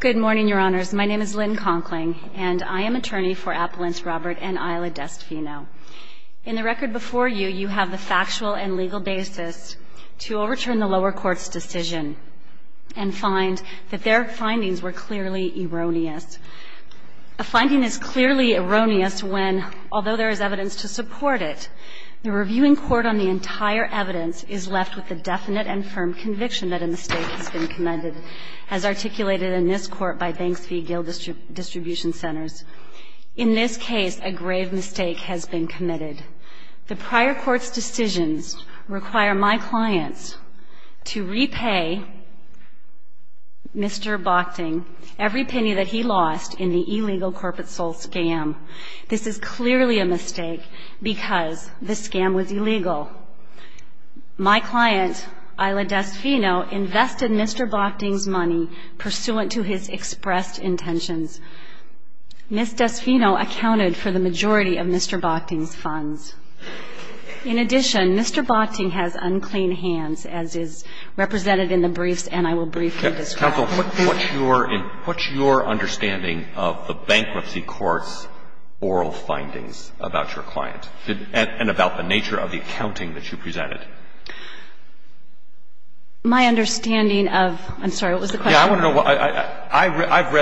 Good morning, your honors. My name is Lynn Conkling, and I am attorney for Appellants Robert and Isla Destfino. In the record before you, you have the factual and legal basis to overturn the lower court's decision and find that their findings were clearly erroneous. A finding is clearly erroneous when, although there is evidence to support it, the reviewing court on the entire evidence is left with the definite and firm conviction that a mistake has been committed, as articulated in this court by Banks v. Gill Distribution Centers. In this case, a grave mistake has been committed. The prior court's decisions require my clients to repay Mr. Bockting every penny that he lost in the illegal corporate soul scam. This is clearly a mistake because the scam was illegal. My client, Isla Destfino, invested Mr. Bockting's money pursuant to his expressed intentions. Ms. Destfino accounted for the majority of Mr. Bockting's funds. In addition, Mr. Bockting has unclean hands, as is represented in the briefs and I will briefly describe. Counsel, what's your understanding of the bankruptcy court's oral findings about your client and about the nature of the accounting that you presented? My understanding of – I'm sorry, what was the question? Yeah, I want to know what – I've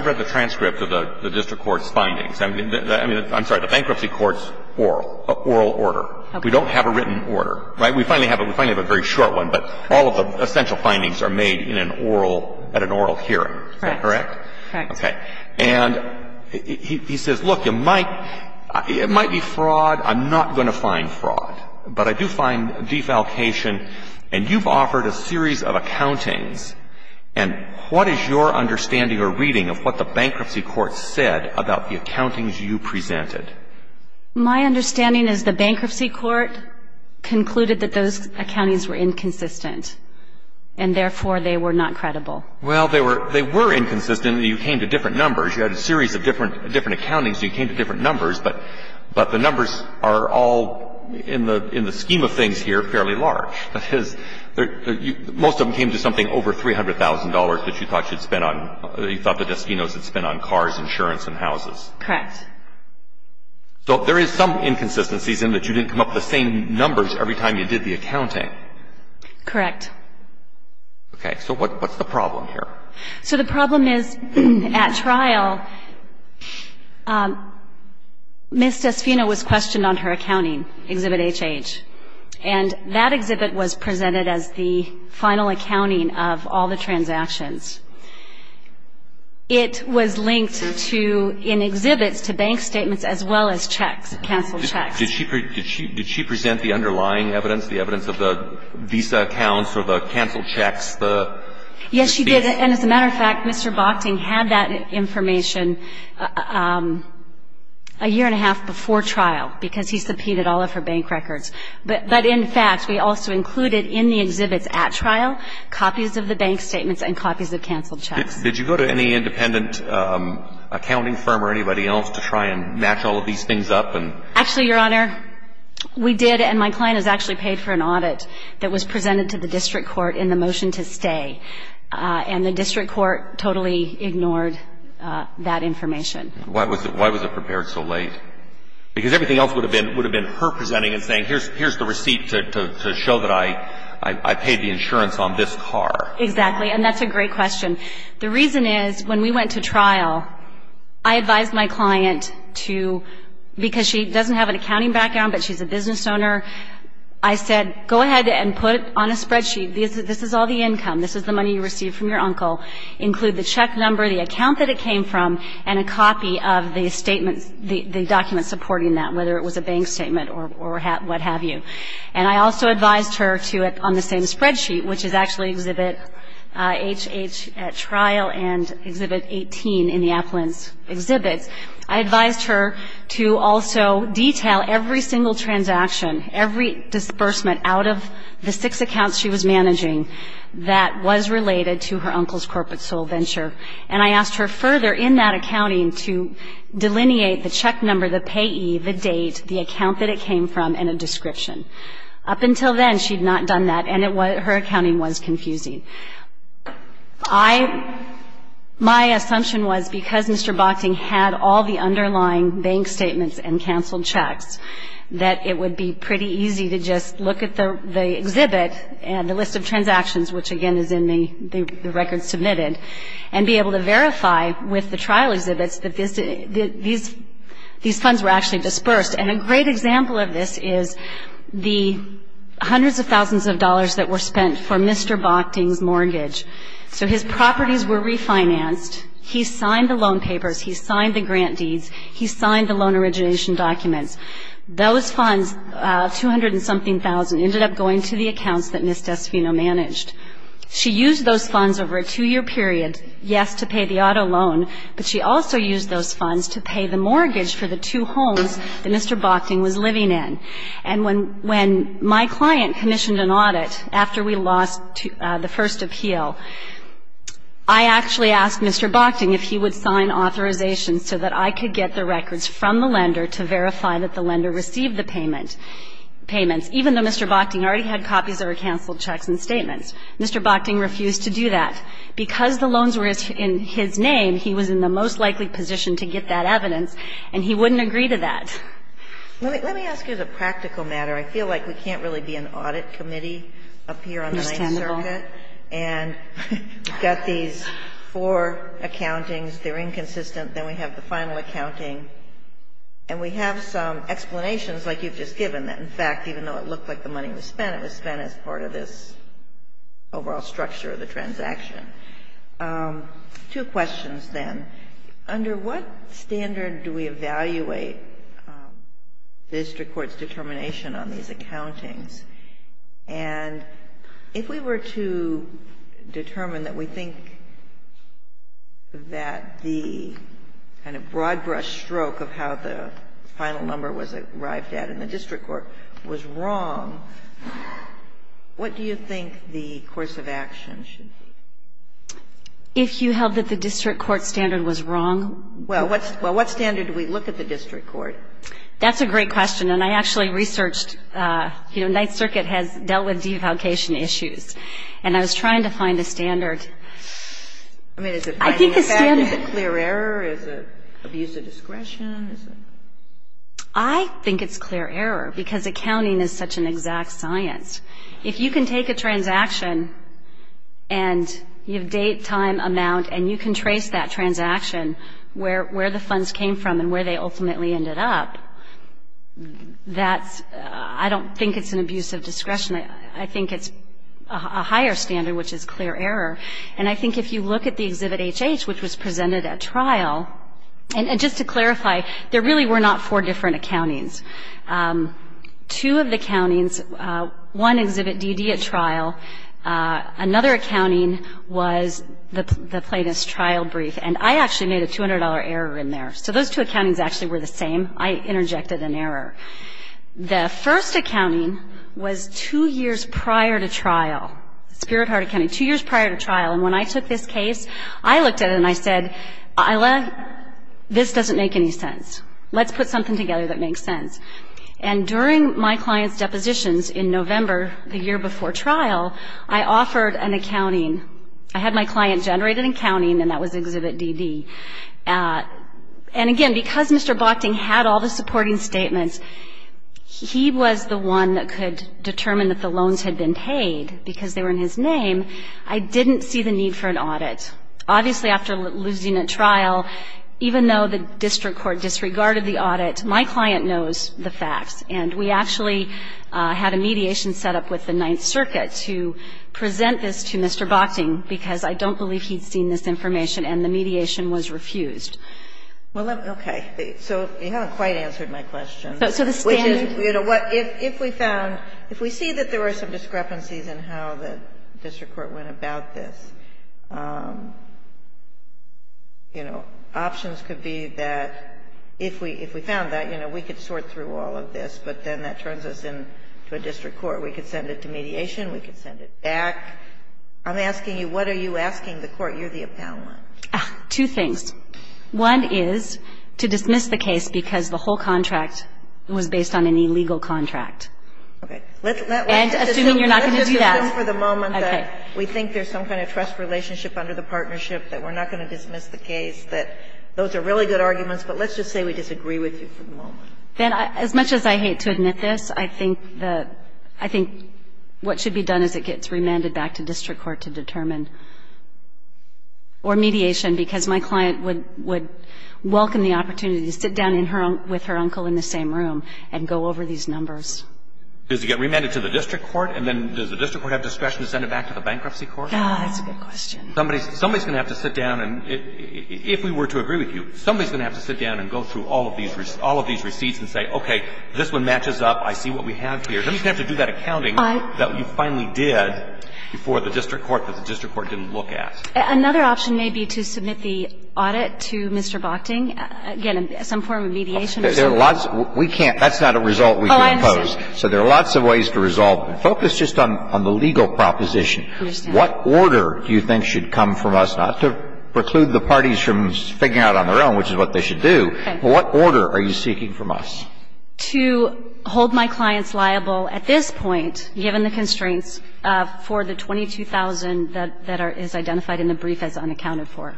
read the transcript of the district court's findings. I mean, I'm sorry, the bankruptcy court's oral order. Okay. We don't have a written order, right? We finally have a very short one, but all of the essential findings are made in an oral – at an oral hearing. Correct. Is that correct? Correct. Okay. And he says, look, it might be fraud. I'm not going to find fraud, but I do find defalcation. And you've offered a series of accountings. And what is your understanding or reading of what the bankruptcy court said about the accountings you presented? My understanding is the bankruptcy court concluded that those accountings were inconsistent and therefore they were not credible. Well, they were inconsistent. You came to different numbers. You had a series of different accountings. You came to different numbers. But the numbers are all, in the scheme of things here, fairly large. That is, most of them came to something over $300,000 that you thought you'd spend on – that you thought the Deskinos had spent on cars, insurance, and houses. Correct. So there is some inconsistencies in that you didn't come up with the same numbers every time you did the accounting. Correct. Okay. So what's the problem? What's the problem here? So the problem is, at trial, Ms. Deskino was questioned on her accounting, Exhibit HH. And that exhibit was presented as the final accounting of all the transactions. It was linked to, in exhibits, to bank statements as well as checks, canceled checks. Did she present the underlying evidence, the evidence of the visa accounts or the canceled checks, the fees? Yes, she did. And, as a matter of fact, Mr. Bochting had that information a year and a half before trial because he subpoenaed all of her bank records. But, in fact, we also included in the exhibits at trial copies of the bank statements and copies of canceled checks. Did you go to any independent accounting firm or anybody else to try and match all of these things up? Actually, Your Honor, we did. And my client has actually paid for an audit that was presented to the district court in the motion to stay. And the district court totally ignored that information. Why was it prepared so late? Because everything else would have been her presenting and saying, here's the receipt to show that I paid the insurance on this car. Exactly. And that's a great question. The reason is, when we went to trial, I advised my client to, because she doesn't have an accounting background but she's a business owner, I said, go ahead and put on a spreadsheet, this is all the income, this is the money you received from your uncle. Include the check number, the account that it came from, and a copy of the document supporting that, whether it was a bank statement or what have you. And I also advised her to, on the same spreadsheet, which is actually exhibit HH at trial and exhibit 18 in the appellant's exhibits, I advised her to also detail every single transaction, every disbursement out of the six accounts she was managing that was related to her uncle's corporate sole venture. And I asked her further in that accounting to delineate the check number, the payee, the date, the account that it came from, and a description. Up until then, she had not done that, and her accounting was confusing. My assumption was, because Mr. Bochting had all the underlying bank statements and canceled checks, that it would be pretty easy to just look at the exhibit and the list of transactions, which again is in the records submitted, and be able to verify with the trial exhibits that these funds were actually disbursed. And a great example of this is the hundreds of thousands of dollars that were spent for Mr. Bochting's mortgage. So his properties were refinanced. He signed the loan papers. He signed the grant deeds. He signed the loan origination documents. Those funds, 200 and something thousand, ended up going to the accounts that Ms. Desfino managed. She used those funds over a two-year period, yes, to pay the auto loan, but she also used those funds to pay the mortgage for the two homes that Mr. Bochting was living in. And when my client commissioned an audit after we lost the first appeal, I actually asked Mr. Bochting if he would sign authorization so that I could get the records from the lender to verify that the lender received the payment, payments, even though Mr. Bochting already had copies that were canceled checks and statements. Mr. Bochting refused to do that. Because the loans were in his name, he was in the most likely position to get that evidence, and he wouldn't agree to that. Let me ask you the practical matter. I feel like we can't really be an audit committee up here on the Ninth Circuit. Understandable. And we've got these four accountings. They're inconsistent. Then we have the final accounting. And we have some explanations, like you've just given, that, in fact, even though it looked like the money was spent, it was spent as part of this overall structure of the transaction. Two questions, then. Under what standard do we evaluate the district court's determination on these accountings? And if we were to determine that we think that the kind of broad-brush stroke of how the final number was arrived at in the district court was wrong, what do you think the course of action should be? If you held that the district court standard was wrong? Well, what standard do we look at the district court? That's a great question. And I actually researched, you know, Ninth Circuit has dealt with devaluation issues. And I was trying to find a standard. I mean, is it finding a fact? Is it clear error? Is it abuse of discretion? I think it's clear error because accounting is such an exact science. If you can take a transaction and you have date, time, amount, and you can trace that transaction where the funds came from and where they ultimately ended up, that's ‑‑ I don't think it's an abuse of discretion. I think it's a higher standard, which is clear error. And I think if you look at the Exhibit HH, which was presented at trial, and just to clarify, there really were not four different accountings. Two of the accountings, one Exhibit DD at trial, another accounting was the Plaintiff's Trial Brief. And I actually made a $200 error in there. So those two accountings actually were the same. I interjected an error. The first accounting was two years prior to trial, Spirit Heart Accounting, two years prior to trial. And when I took this case, I looked at it and I said, Isla, this doesn't make any sense. Let's put something together that makes sense. And during my client's depositions in November, the year before trial, I offered an accounting. I had my client generate an accounting, and that was Exhibit DD. And, again, because Mr. Bochting had all the supporting statements, he was the one that could determine that the loans had been paid because they were in his name. I didn't see the need for an audit. Obviously, after losing a trial, even though the district court disregarded the audit, my client knows the facts. And we actually had a mediation set up with the Ninth Circuit to present this to Mr. Bochting, because I don't believe he'd seen this information and the mediation was refused. Ginsburg. Well, okay. So you haven't quite answered my question. If we found, if we see that there were some discrepancies in how the district court went about this, you know, options could be that if we found that, you know, we could sort through all of this, but then that turns us into a district court. We could send it to mediation. We could send it back. I'm asking you, what are you asking the court? You're the appellant. Two things. One is to dismiss the case because the whole contract was based on an illegal contract. Okay. And assuming you're not going to do that. I assume for the moment that we think there's some kind of trust relationship under the partnership, that we're not going to dismiss the case, that those are really good arguments, but let's just say we disagree with you for the moment. As much as I hate to admit this, I think the, I think what should be done is it gets remanded back to district court to determine, or mediation, because my client would welcome the opportunity to sit down with her uncle in the same room and go over these numbers. Does it get remanded to the district court, and then does the district court have discretion to send it back to the bankruptcy court? That's a good question. Somebody's going to have to sit down, and if we were to agree with you, somebody's going to have to sit down and go through all of these receipts and say, okay, this one matches up. I see what we have here. Somebody's going to have to do that accounting that we finally did before the district court that the district court didn't look at. Another option may be to submit the audit to Mr. Bochting, again, some form of mediation or something. But there's a lot of ways to resolve this. There are lots of ways. We can't. That's not a result we can impose. So there are lots of ways to resolve it. Focus just on the legal proposition. What order do you think should come from us, not to preclude the parties from figuring out on their own which is what they should do, but what order are you seeking from us? To hold my clients liable at this point, given the constraints, for the $22,000 that is identified in the brief as unaccounted for.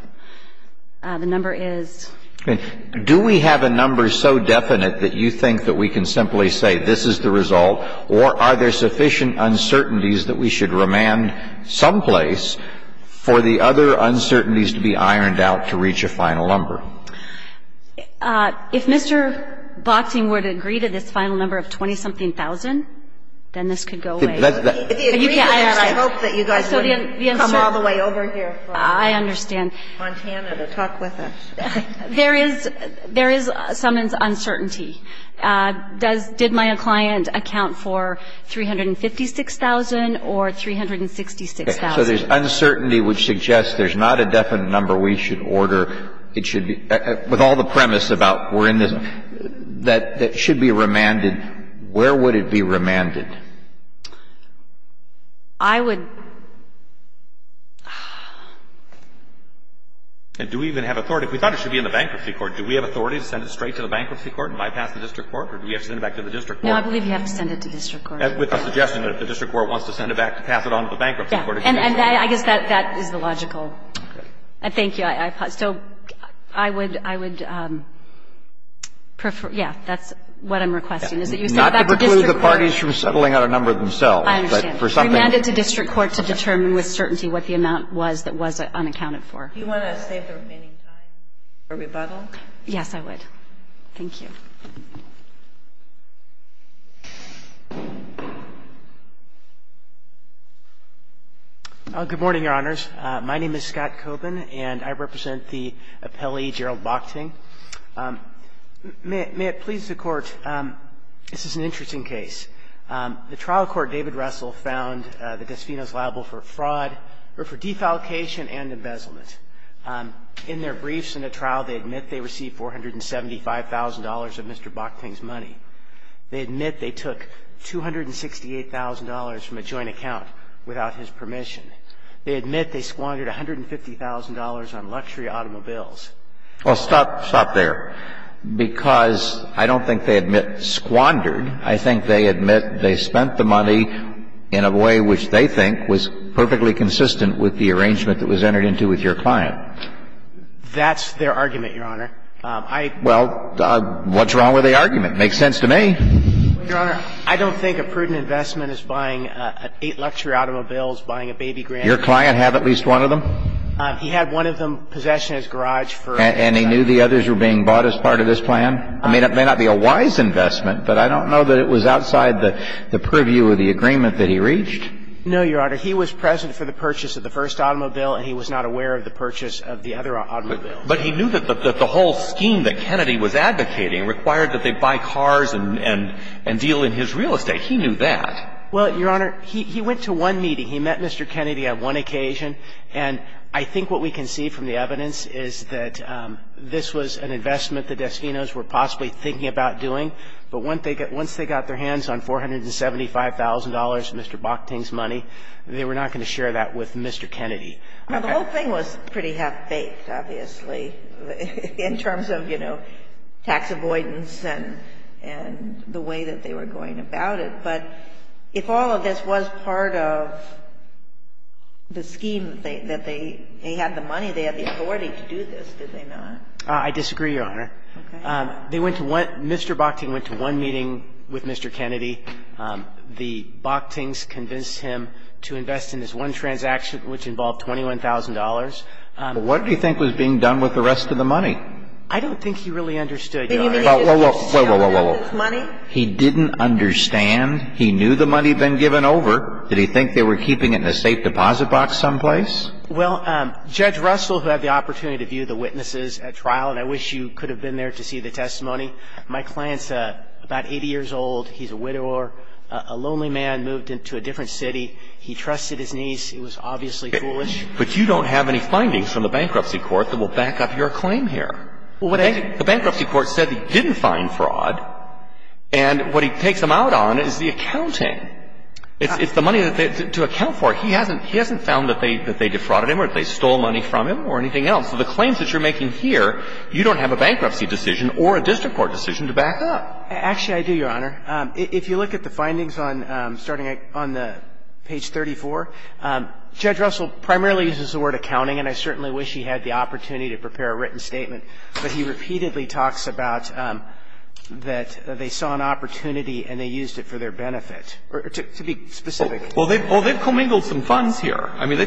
The number is ---- Do we have a number so definite that you think that we can simply say this is the result, or are there sufficient uncertainties that we should remand someplace for the other uncertainties to be ironed out to reach a final number? If Mr. Bochting were to agree to this final number of 20-something thousand, then this could go away. If he agreed to that, I hope that you guys wouldn't come all the way over here from Montana to talk with us. There is ---- there is some uncertainty. Does ---- did my client account for $356,000 or $366,000? So there's uncertainty which suggests there's not a definite number we should order. It should be ---- with all the premise about we're in this ---- that should be remanded, where would it be remanded? I would ---- And do we even have authority? If we thought it should be in the bankruptcy court, do we have authority to send it straight to the bankruptcy court and bypass the district court, or do we have to send it back to the district court? No, I believe you have to send it to district court. With the suggestion that if the district court wants to send it back, to pass it on to the bankruptcy court. Yes. And I guess that is the logical ---- Okay. So I would prefer ---- yes, that's what I'm requesting, is that you send it back to district court. Not to preclude the parties from settling on a number themselves. I understand. But for something ---- for me to assume it, to assume the severance capital that I wasottle did not relevant for what the complaint was unaccounted for. Do you want to save the remaining time for rebuttal? Yes, I would. Thank you. Good morning, Your Honors. My name is Scott Coban, and I represent the appellee, Gerald Bockting. May it please the Court, this is an interesting case. The trial court, David Russell, found the Gosfinos liable for fraud or for defalcation and embezzlement. In their briefs in the trial, they admit they received $475,000 of Mr. Bockting's money. They admit they took $268,000 from a joint account without his permission. They admit they squandered $150,000 on luxury automobiles. Well, stop there, because I don't think they admit squandered. I think they admit they spent the money in a way which they think was perfectly consistent with the arrangement that was entered into with your client. That's their argument, Your Honor. Well, what's wrong with the argument? It makes sense to me. Your Honor, I don't think a prudent investment is buying eight luxury automobiles, buying a baby grandchild. Your client had at least one of them? He had one of them possessed in his garage for a while. And he knew the others were being bought as part of this plan? It may not be a wise investment, but I don't know that it was outside the purview of the agreement that he reached. No, Your Honor. He was present for the purchase of the first automobile, and he was not aware of the purchase of the other automobile. But he knew that the whole scheme that Kennedy was advocating required that they buy cars and deal in his real estate. He knew that. Well, Your Honor, he went to one meeting. He met Mr. Kennedy on one occasion. And I think what we can see from the evidence is that this was an investment the Destinos were possibly thinking about doing. But once they got their hands on $475,000, Mr. Bockting's money, they were not going to share that with Mr. Kennedy. Well, the whole thing was pretty half-baked, obviously, in terms of, you know, tax avoidance and the way that they were going about it. But if all of this was part of the scheme that they had the money, they had the authority to do this, did they not? I disagree, Your Honor. Okay. They went to one – Mr. Bockting went to one meeting with Mr. Kennedy. The Bocktings convinced him to invest in this one transaction, which involved $21,000. What do you think was being done with the rest of the money? I don't think he really understood, Your Honor. Wait, wait, wait, wait, wait, wait, wait, wait. He didn't understand? He knew the money had been given over. Did he think they were keeping it in a safe deposit box someplace? Well, Judge Russell, who had the opportunity to view the witnesses at trial, and I wish you could have been there to see the testimony, my client's about 80 years old. He's a widower. A lonely man moved into a different city. He trusted his niece. It was obviously foolish. But you don't have any findings from the bankruptcy court that will back up your claim The bankruptcy court said he didn't find fraud. And what he takes them out on is the accounting. It's the money to account for. He hasn't found that they defrauded him or that they stole money from him or anything else. So the claims that you're making here, you don't have a bankruptcy decision or a district court decision to back up. Actually, I do, Your Honor. If you look at the findings on starting on page 34, Judge Russell primarily uses the word accounting, and I certainly wish he had the opportunity to prepare a written statement. But he repeatedly talks about that they saw an opportunity and they used it for their benefit. To be specific. Well, they've commingled some funds here. I mean,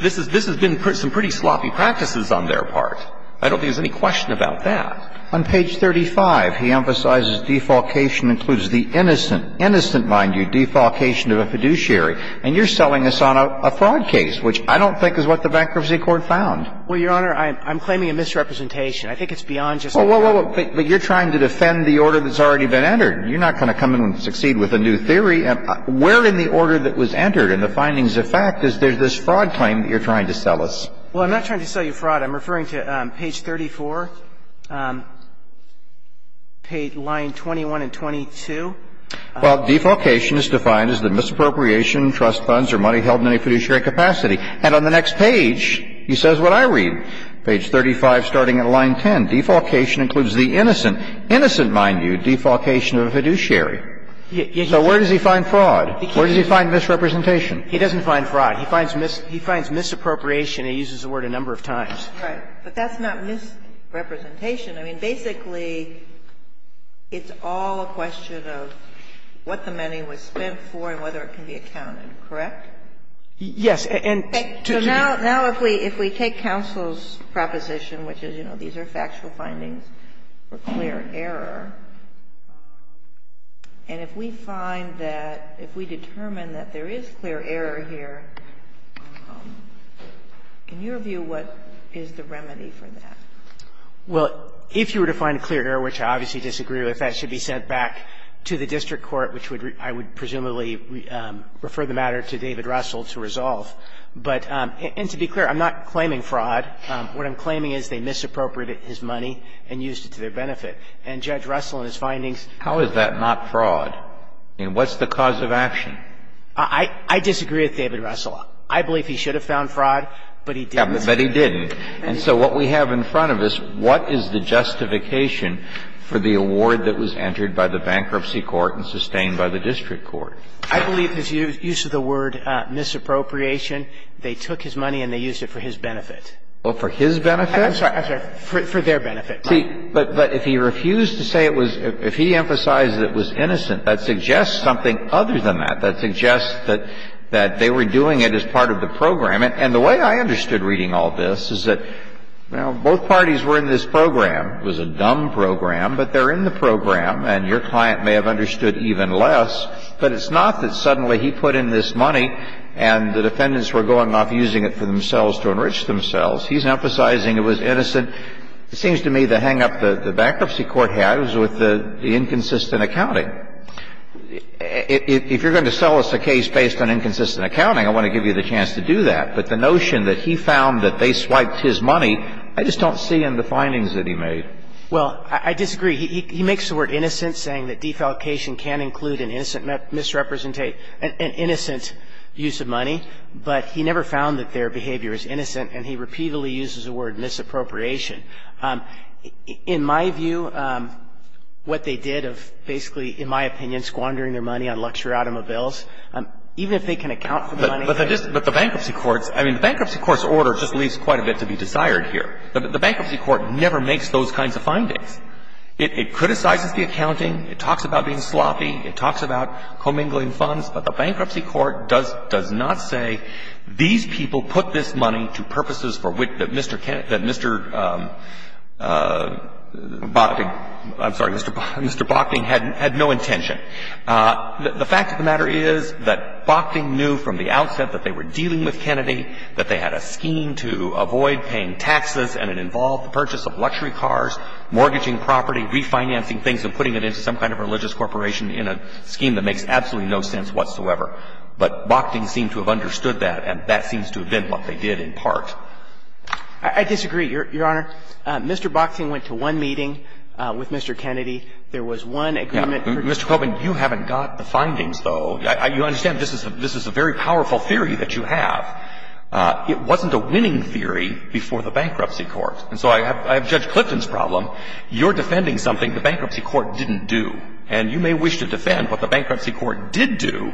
this has been some pretty sloppy practices on their part. I don't think there's any question about that. On page 35, he emphasizes defalcation includes the innocent, innocent, mind you, defalcation of a fiduciary. And you're selling us on a fraud case, which I don't think is what the bankruptcy court found. Well, Your Honor, I'm claiming a misrepresentation. I think it's beyond just a fraud. Well, but you're trying to defend the order that's already been entered. You're not going to come in and succeed with a new theory. Where in the order that was entered in the findings of fact is there's this fraud claim that you're trying to sell us? Well, I'm not trying to sell you fraud. I'm referring to page 34, line 21 and 22. Well, defalcation is defined as the misappropriation, trust funds, or money held in a fiduciary capacity. And on the next page, he says what I read, page 35 starting at line 10, defalcation includes the innocent, innocent, mind you, defalcation of a fiduciary. So where does he find fraud? Where does he find misrepresentation? He doesn't find fraud. He finds misappropriation. He uses the word a number of times. Right. But that's not misrepresentation. I mean, basically, it's all a question of what the money was spent for and whether it can be accounted, correct? Yes. So now if we take counsel's proposition, which is, you know, these are factual findings for clear error, and if we find that, if we determine that there is clear error here, in your view, what is the remedy for that? Well, if you were to find clear error, which I obviously disagree with, that should be sent back to the district court, which would, I would presumably refer the matter to David Russell to resolve. But, and to be clear, I'm not claiming fraud. What I'm claiming is they misappropriated his money and used it to their benefit. And Judge Russell and his findings. How is that not fraud? I mean, what's the cause of action? I disagree with David Russell. I believe he should have found fraud, but he didn't. But he didn't. And so what we have in front of us, what is the justification for the award that was entered by the bankruptcy court and sustained by the district court? I believe his use of the word misappropriation, they took his money and they used it for his benefit. Well, for his benefit? I'm sorry. I'm sorry. For their benefit. See, but if he refused to say it was – if he emphasized it was innocent, that suggests something other than that. That suggests that they were doing it as part of the program. And the way I understood reading all this is that, well, both parties were in this program. It was a dumb program, but they're in the program, and your client may have understood it even less, but it's not that suddenly he put in this money and the defendants were going off using it for themselves to enrich themselves. He's emphasizing it was innocent. It seems to me the hang-up the bankruptcy court had was with the inconsistent accounting. If you're going to sell us a case based on inconsistent accounting, I want to give you the chance to do that, but the notion that he found that they swiped his money, I just don't see in the findings that he made. Well, I disagree. He makes the word innocent, saying that defalcation can include an innocent misrepresentation – an innocent use of money. But he never found that their behavior is innocent, and he repeatedly uses the word misappropriation. In my view, what they did of basically, in my opinion, squandering their money on luxury automobiles, even if they can account for the money there – But the bankruptcy court's – I mean, the bankruptcy court's order just leaves quite a bit to be desired here. The bankruptcy court never makes those kinds of findings. It criticizes the accounting. It talks about being sloppy. It talks about commingling funds. But the bankruptcy court does not say these people put this money to purposes for which Mr. Kennedy – that Mr. – I'm sorry, Mr. Bokting had no intention. The fact of the matter is that Bokting knew from the outset that they were dealing with Kennedy, that they had a scheme to avoid paying taxes, and it involved the purchase of luxury cars, mortgaging property, refinancing things, and putting it into some kind of religious corporation in a scheme that makes absolutely no sense whatsoever. But Bokting seemed to have understood that, and that seems to have been what they did in part. I disagree, Your Honor. Mr. Bokting went to one meeting with Mr. Kennedy. There was one agreement. Mr. Copeland, you haven't got the findings, though. You understand this is a very powerful theory that you have. It wasn't a winning theory before the bankruptcy court. And so I have Judge Clifton's problem. You're defending something the bankruptcy court didn't do. And you may wish to defend what the bankruptcy court did do,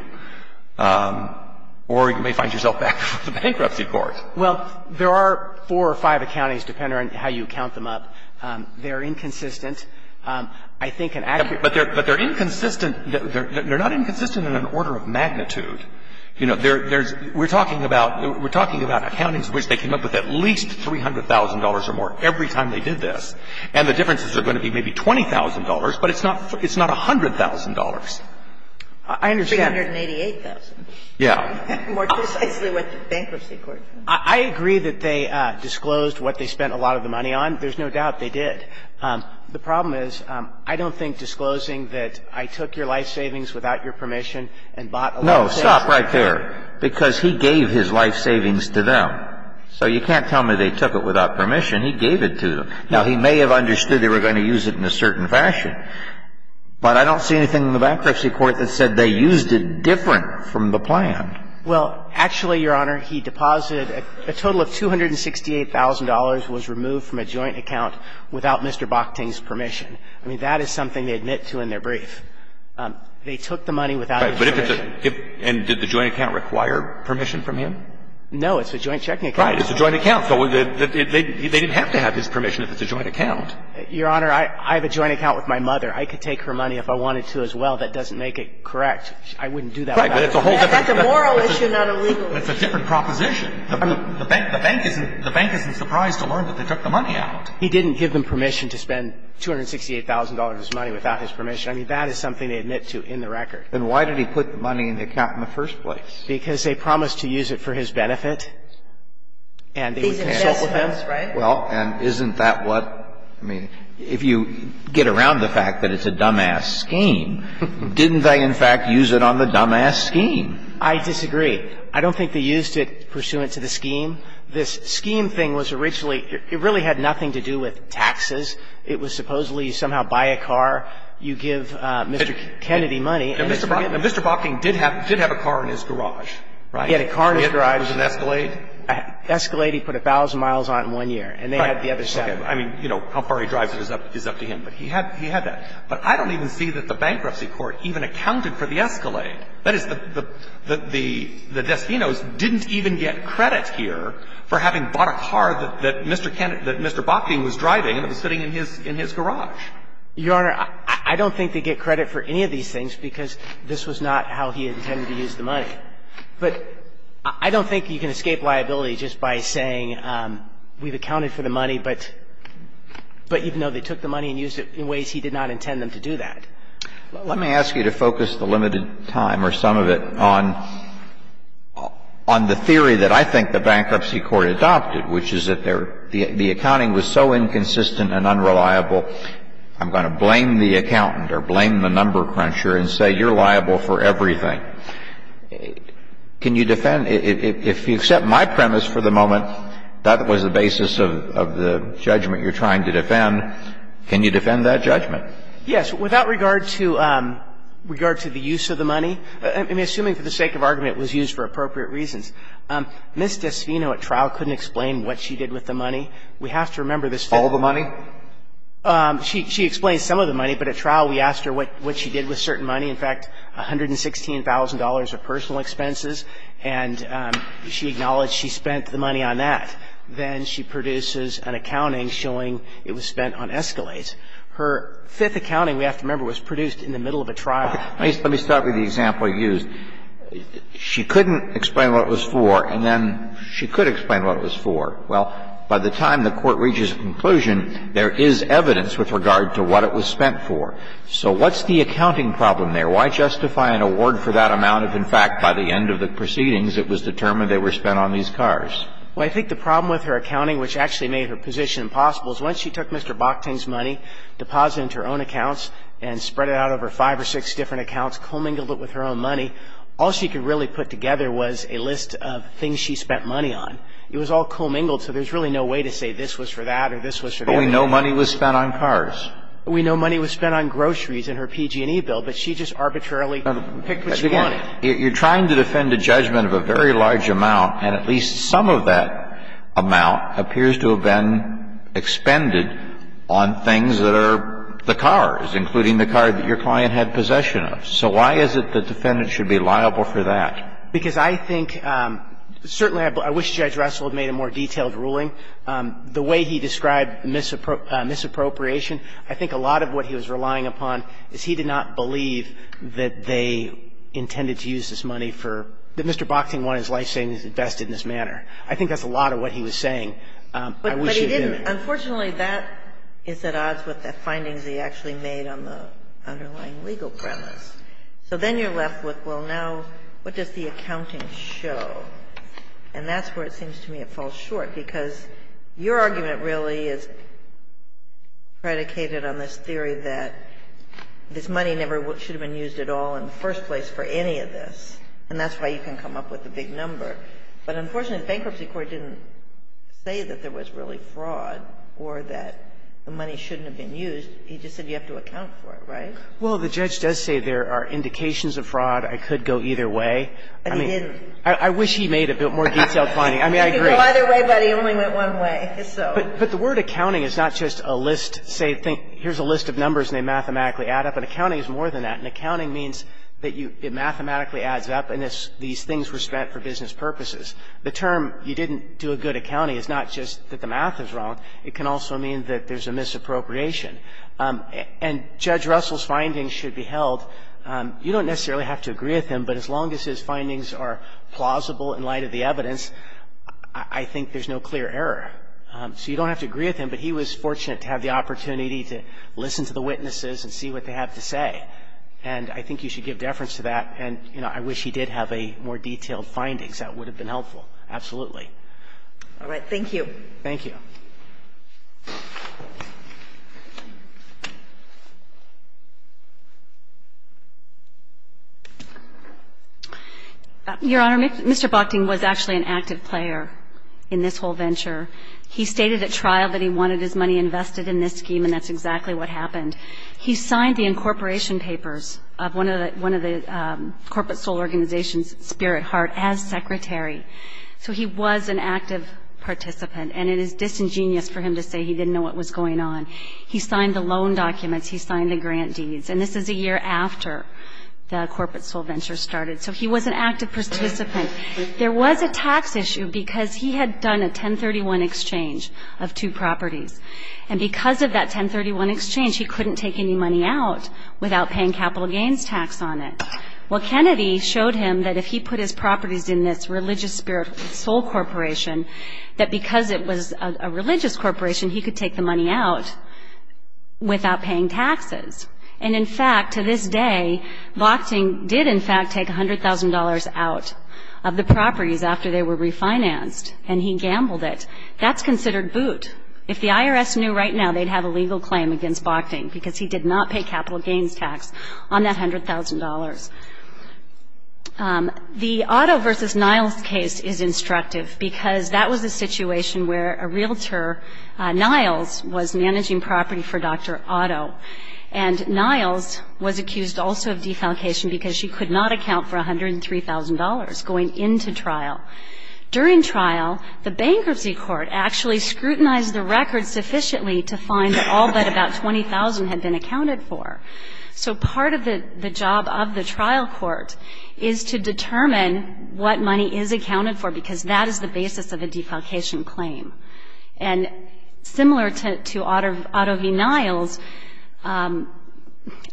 or you may find yourself back with the bankruptcy court. Well, there are four or five accountings, depending on how you count them up. They're inconsistent. I think an accurate – But they're inconsistent. They're not inconsistent in an order of magnitude. You know, there's – we're talking about – we're talking about accountings in which they came up with at least $300,000 or more every time they did this. And the differences are going to be maybe $20,000, but it's not – it's not $100,000. I understand. $388,000. Yeah. More precisely what the bankruptcy court did. I agree that they disclosed what they spent a lot of the money on. There's no doubt they did. The problem is I don't think disclosing that I took your life savings without your permission and bought a lot of savings. No, stop right there. Because he gave his life savings to them. So you can't tell me they took it without permission. He gave it to them. Now, he may have understood they were going to use it in a certain fashion, but I don't see anything in the bankruptcy court that said they used it different from the plan. Well, actually, Your Honor, he deposited – a total of $268,000 was removed from a joint account without Mr. Bockting's permission. They took the money without his permission. Right. But if it's a – and did the joint account require permission from him? No. It's a joint checking account. Right. It's a joint account. So they didn't have to have his permission if it's a joint account. Your Honor, I have a joint account with my mother. I could take her money if I wanted to as well. That doesn't make it correct. I wouldn't do that without his permission. That's a moral issue, not a legal issue. It's a different proposition. The bank isn't surprised to learn that they took the money out. He didn't give them permission to spend $268,000 of his money without his permission. I mean, that is something they admit to in the record. Then why did he put the money in the account in the first place? Because they promised to use it for his benefit and they would consult with him. Well, and isn't that what – I mean, if you get around the fact that it's a dumbass scheme, didn't they, in fact, use it on the dumbass scheme? I disagree. I don't think they used it pursuant to the scheme. This scheme thing was originally – it really had nothing to do with taxes. It was supposedly you somehow buy a car, you give Mr. Kennedy money. Mr. Bocking did have a car in his garage, right? He had a car in his garage. Was it an Escalade? Escalade he put 1,000 miles on in one year. And they had the other side. I mean, you know, how far he drives is up to him. But he had that. But I don't even see that the bankruptcy court even accounted for the Escalade. That is, the destinos didn't even get credit here for having bought a car that Mr. Bocking was driving and it was sitting in his garage. Your Honor, I don't think they get credit for any of these things because this was not how he intended to use the money. But I don't think you can escape liability just by saying we've accounted for the money, but even though they took the money and used it in ways he did not intend them to do that. Let me ask you to focus the limited time or some of it on the theory that I think the bankruptcy court adopted, which is that the accounting was so inconsistent and unreliable, I'm going to blame the accountant or blame the number cruncher and say you're liable for everything. Can you defend, if you accept my premise for the moment, that was the basis of the judgment you're trying to defend, can you defend that judgment? Yes. Without regard to the use of the money, I mean, assuming for the sake of argument it was used for appropriate reasons. Ms. DeSfino at trial couldn't explain what she did with the money. We have to remember this. All the money? She explains some of the money, but at trial we asked her what she did with certain money, in fact, $116,000 of personal expenses, and she acknowledged she spent the money on that. Then she produces an accounting showing it was spent on escalates. Now, let me start with the example you used. She couldn't explain what it was for, and then she could explain what it was for. Well, by the time the court reaches a conclusion, there is evidence with regard to what it was spent for. So what's the accounting problem there? Why justify an award for that amount if, in fact, by the end of the proceedings, it was determined they were spent on these cars? Well, I think the problem with her accounting, which actually made her position impossible, is once she took Mr. Bockting's money, deposited it into her own accounts and spread it out over five or six different accounts, commingled it with her own money, all she could really put together was a list of things she spent money on. It was all commingled, so there's really no way to say this was for that or this was for that. But we know money was spent on cars. We know money was spent on groceries in her PG&E bill, but she just arbitrarily picked what she wanted. You're trying to defend a judgment of a very large amount, and at least some of that amount appears to have been expended on things that are the cars, including the car that your client had possession of. So why is it the defendant should be liable for that? Because I think certainly I wish Judge Russell had made a more detailed ruling. The way he described misappropriation, I think a lot of what he was relying upon is he did not believe that they intended to use this money for Mr. Bockting wanted his life savings invested in this manner. I think that's a lot of what he was saying. I wish he didn't. But he didn't. Unfortunately, that is at odds with the findings he actually made on the underlying legal premise. So then you're left with, well, now, what does the accounting show? And that's where it seems to me it falls short, because your argument really is predicated on this theory that this money never should have been used at all in the first place for any of this, and that's why you can come up with a big number. But unfortunately, the Bankruptcy Court didn't say that there was really fraud or that the money shouldn't have been used. He just said you have to account for it, right? Well, the judge does say there are indications of fraud. I could go either way. But he didn't. I wish he made a bit more detailed finding. I mean, I agree. He could go either way, but he only went one way, so. But the word accounting is not just a list, say, here's a list of numbers and they mathematically add up. An accounting is more than that. An accounting means that you – it mathematically adds up, and these things were used for other business purposes. The term you didn't do a good accounting is not just that the math is wrong. It can also mean that there's a misappropriation. And Judge Russell's findings should be held. You don't necessarily have to agree with him, but as long as his findings are plausible in light of the evidence, I think there's no clear error. So you don't have to agree with him, but he was fortunate to have the opportunity to listen to the witnesses and see what they have to say. And I think you should give deference to that, and, you know, I wish he did have a more detailed findings. That would have been helpful, absolutely. All right. Thank you. Thank you. Your Honor, Mr. Bochting was actually an active player in this whole venture. He stated at trial that he wanted his money invested in this scheme, and that's exactly what happened. He signed the incorporation papers of one of the corporate sole organizations, Spirit Heart, as secretary. So he was an active participant, and it is disingenuous for him to say he didn't know what was going on. He signed the loan documents. He signed the grant deeds. And this is a year after the corporate sole venture started. So he was an active participant. There was a tax issue because he had done a 1031 exchange of two properties. And because of that 1031 exchange, he couldn't take any money out without paying capital gains tax on it. Well, Kennedy showed him that if he put his properties in this religious spirit sole corporation, that because it was a religious corporation, he could take the money out without paying taxes. And, in fact, to this day, Bochting did, in fact, take $100,000 out of the properties after they were refinanced, and he gambled it. That's considered boot. If the IRS knew right now, they'd have a legal claim against Bochting because he did not pay capital gains tax on that $100,000. The Otto v. Niles case is instructive because that was a situation where a realtor, Niles, was managing property for Dr. Otto. And Niles was accused also of defalcation because she could not account for $103,000 going into trial. During trial, the bankruptcy court actually scrutinized the record sufficiently to find that all but about $20,000 had been accounted for. So part of the job of the trial court is to determine what money is accounted for because that is the basis of a defalcation claim. And similar to Otto v. Niles,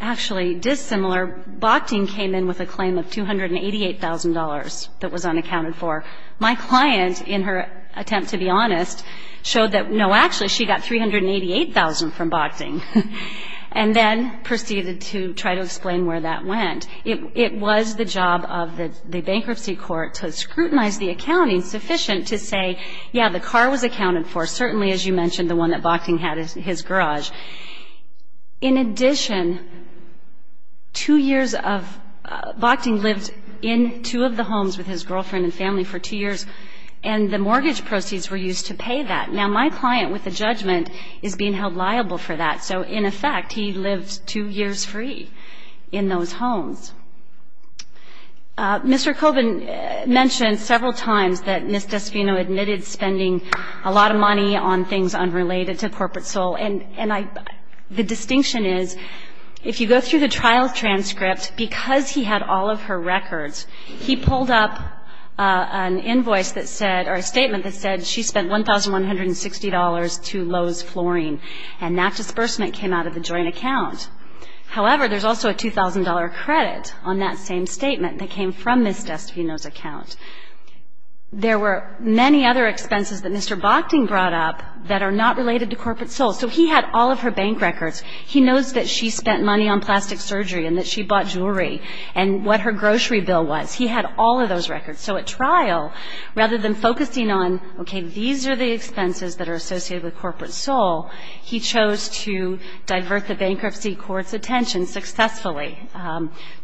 actually dissimilar, Bochting came in with a claim of $288,000 that was unaccounted for. My client, in her attempt to be honest, showed that, no, actually she got $388,000 from Bochting and then proceeded to try to explain where that went. It was the job of the bankruptcy court to scrutinize the accounting sufficient to say, yeah, the car was accounted for, certainly, as you mentioned, the one that Bochting had in his garage. In addition, two years of Bochting lived in two of the homes with his girlfriend and family for two years, and the mortgage proceeds were used to pay that. Now, my client, with a judgment, is being held liable for that. So, in effect, he lived two years free in those homes. Mr. Colvin mentioned several times that Ms. Desvino admitted spending a lot of money on things unrelated to corporate soul. And the distinction is, if you go through the trial transcript, because he had all of her records, he pulled up an invoice that said, or a statement that said she spent $1,160 to Lowe's Flooring, and that disbursement came out of the joint account. However, there's also a $2,000 credit on that same statement that came from Ms. Desvino's account. There were many other expenses that Mr. Bochting brought up that are not related to corporate soul. So he had all of her bank records. He knows that she spent money on plastic surgery and that she bought jewelry and what her grocery bill was. He had all of those records. So at trial, rather than focusing on, okay, these are the expenses that are associated with corporate soul, he chose to divert the bankruptcy court's attention successfully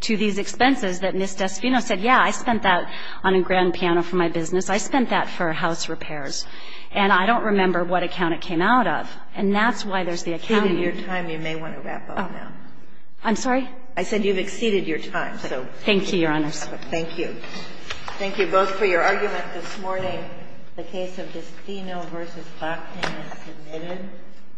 to these expenses that Ms. Desvino said, yeah, I spent that on a grand piano for my business. I spent that for house repairs. And I don't remember what account it came out of. And that's why there's the account. You've exceeded your time. You may want to wrap up now. I'm sorry? I said you've exceeded your time. Thank you, Your Honors. Thank you. Thank you both for your argument this morning. The case of Desvino v. Bochting is submitted.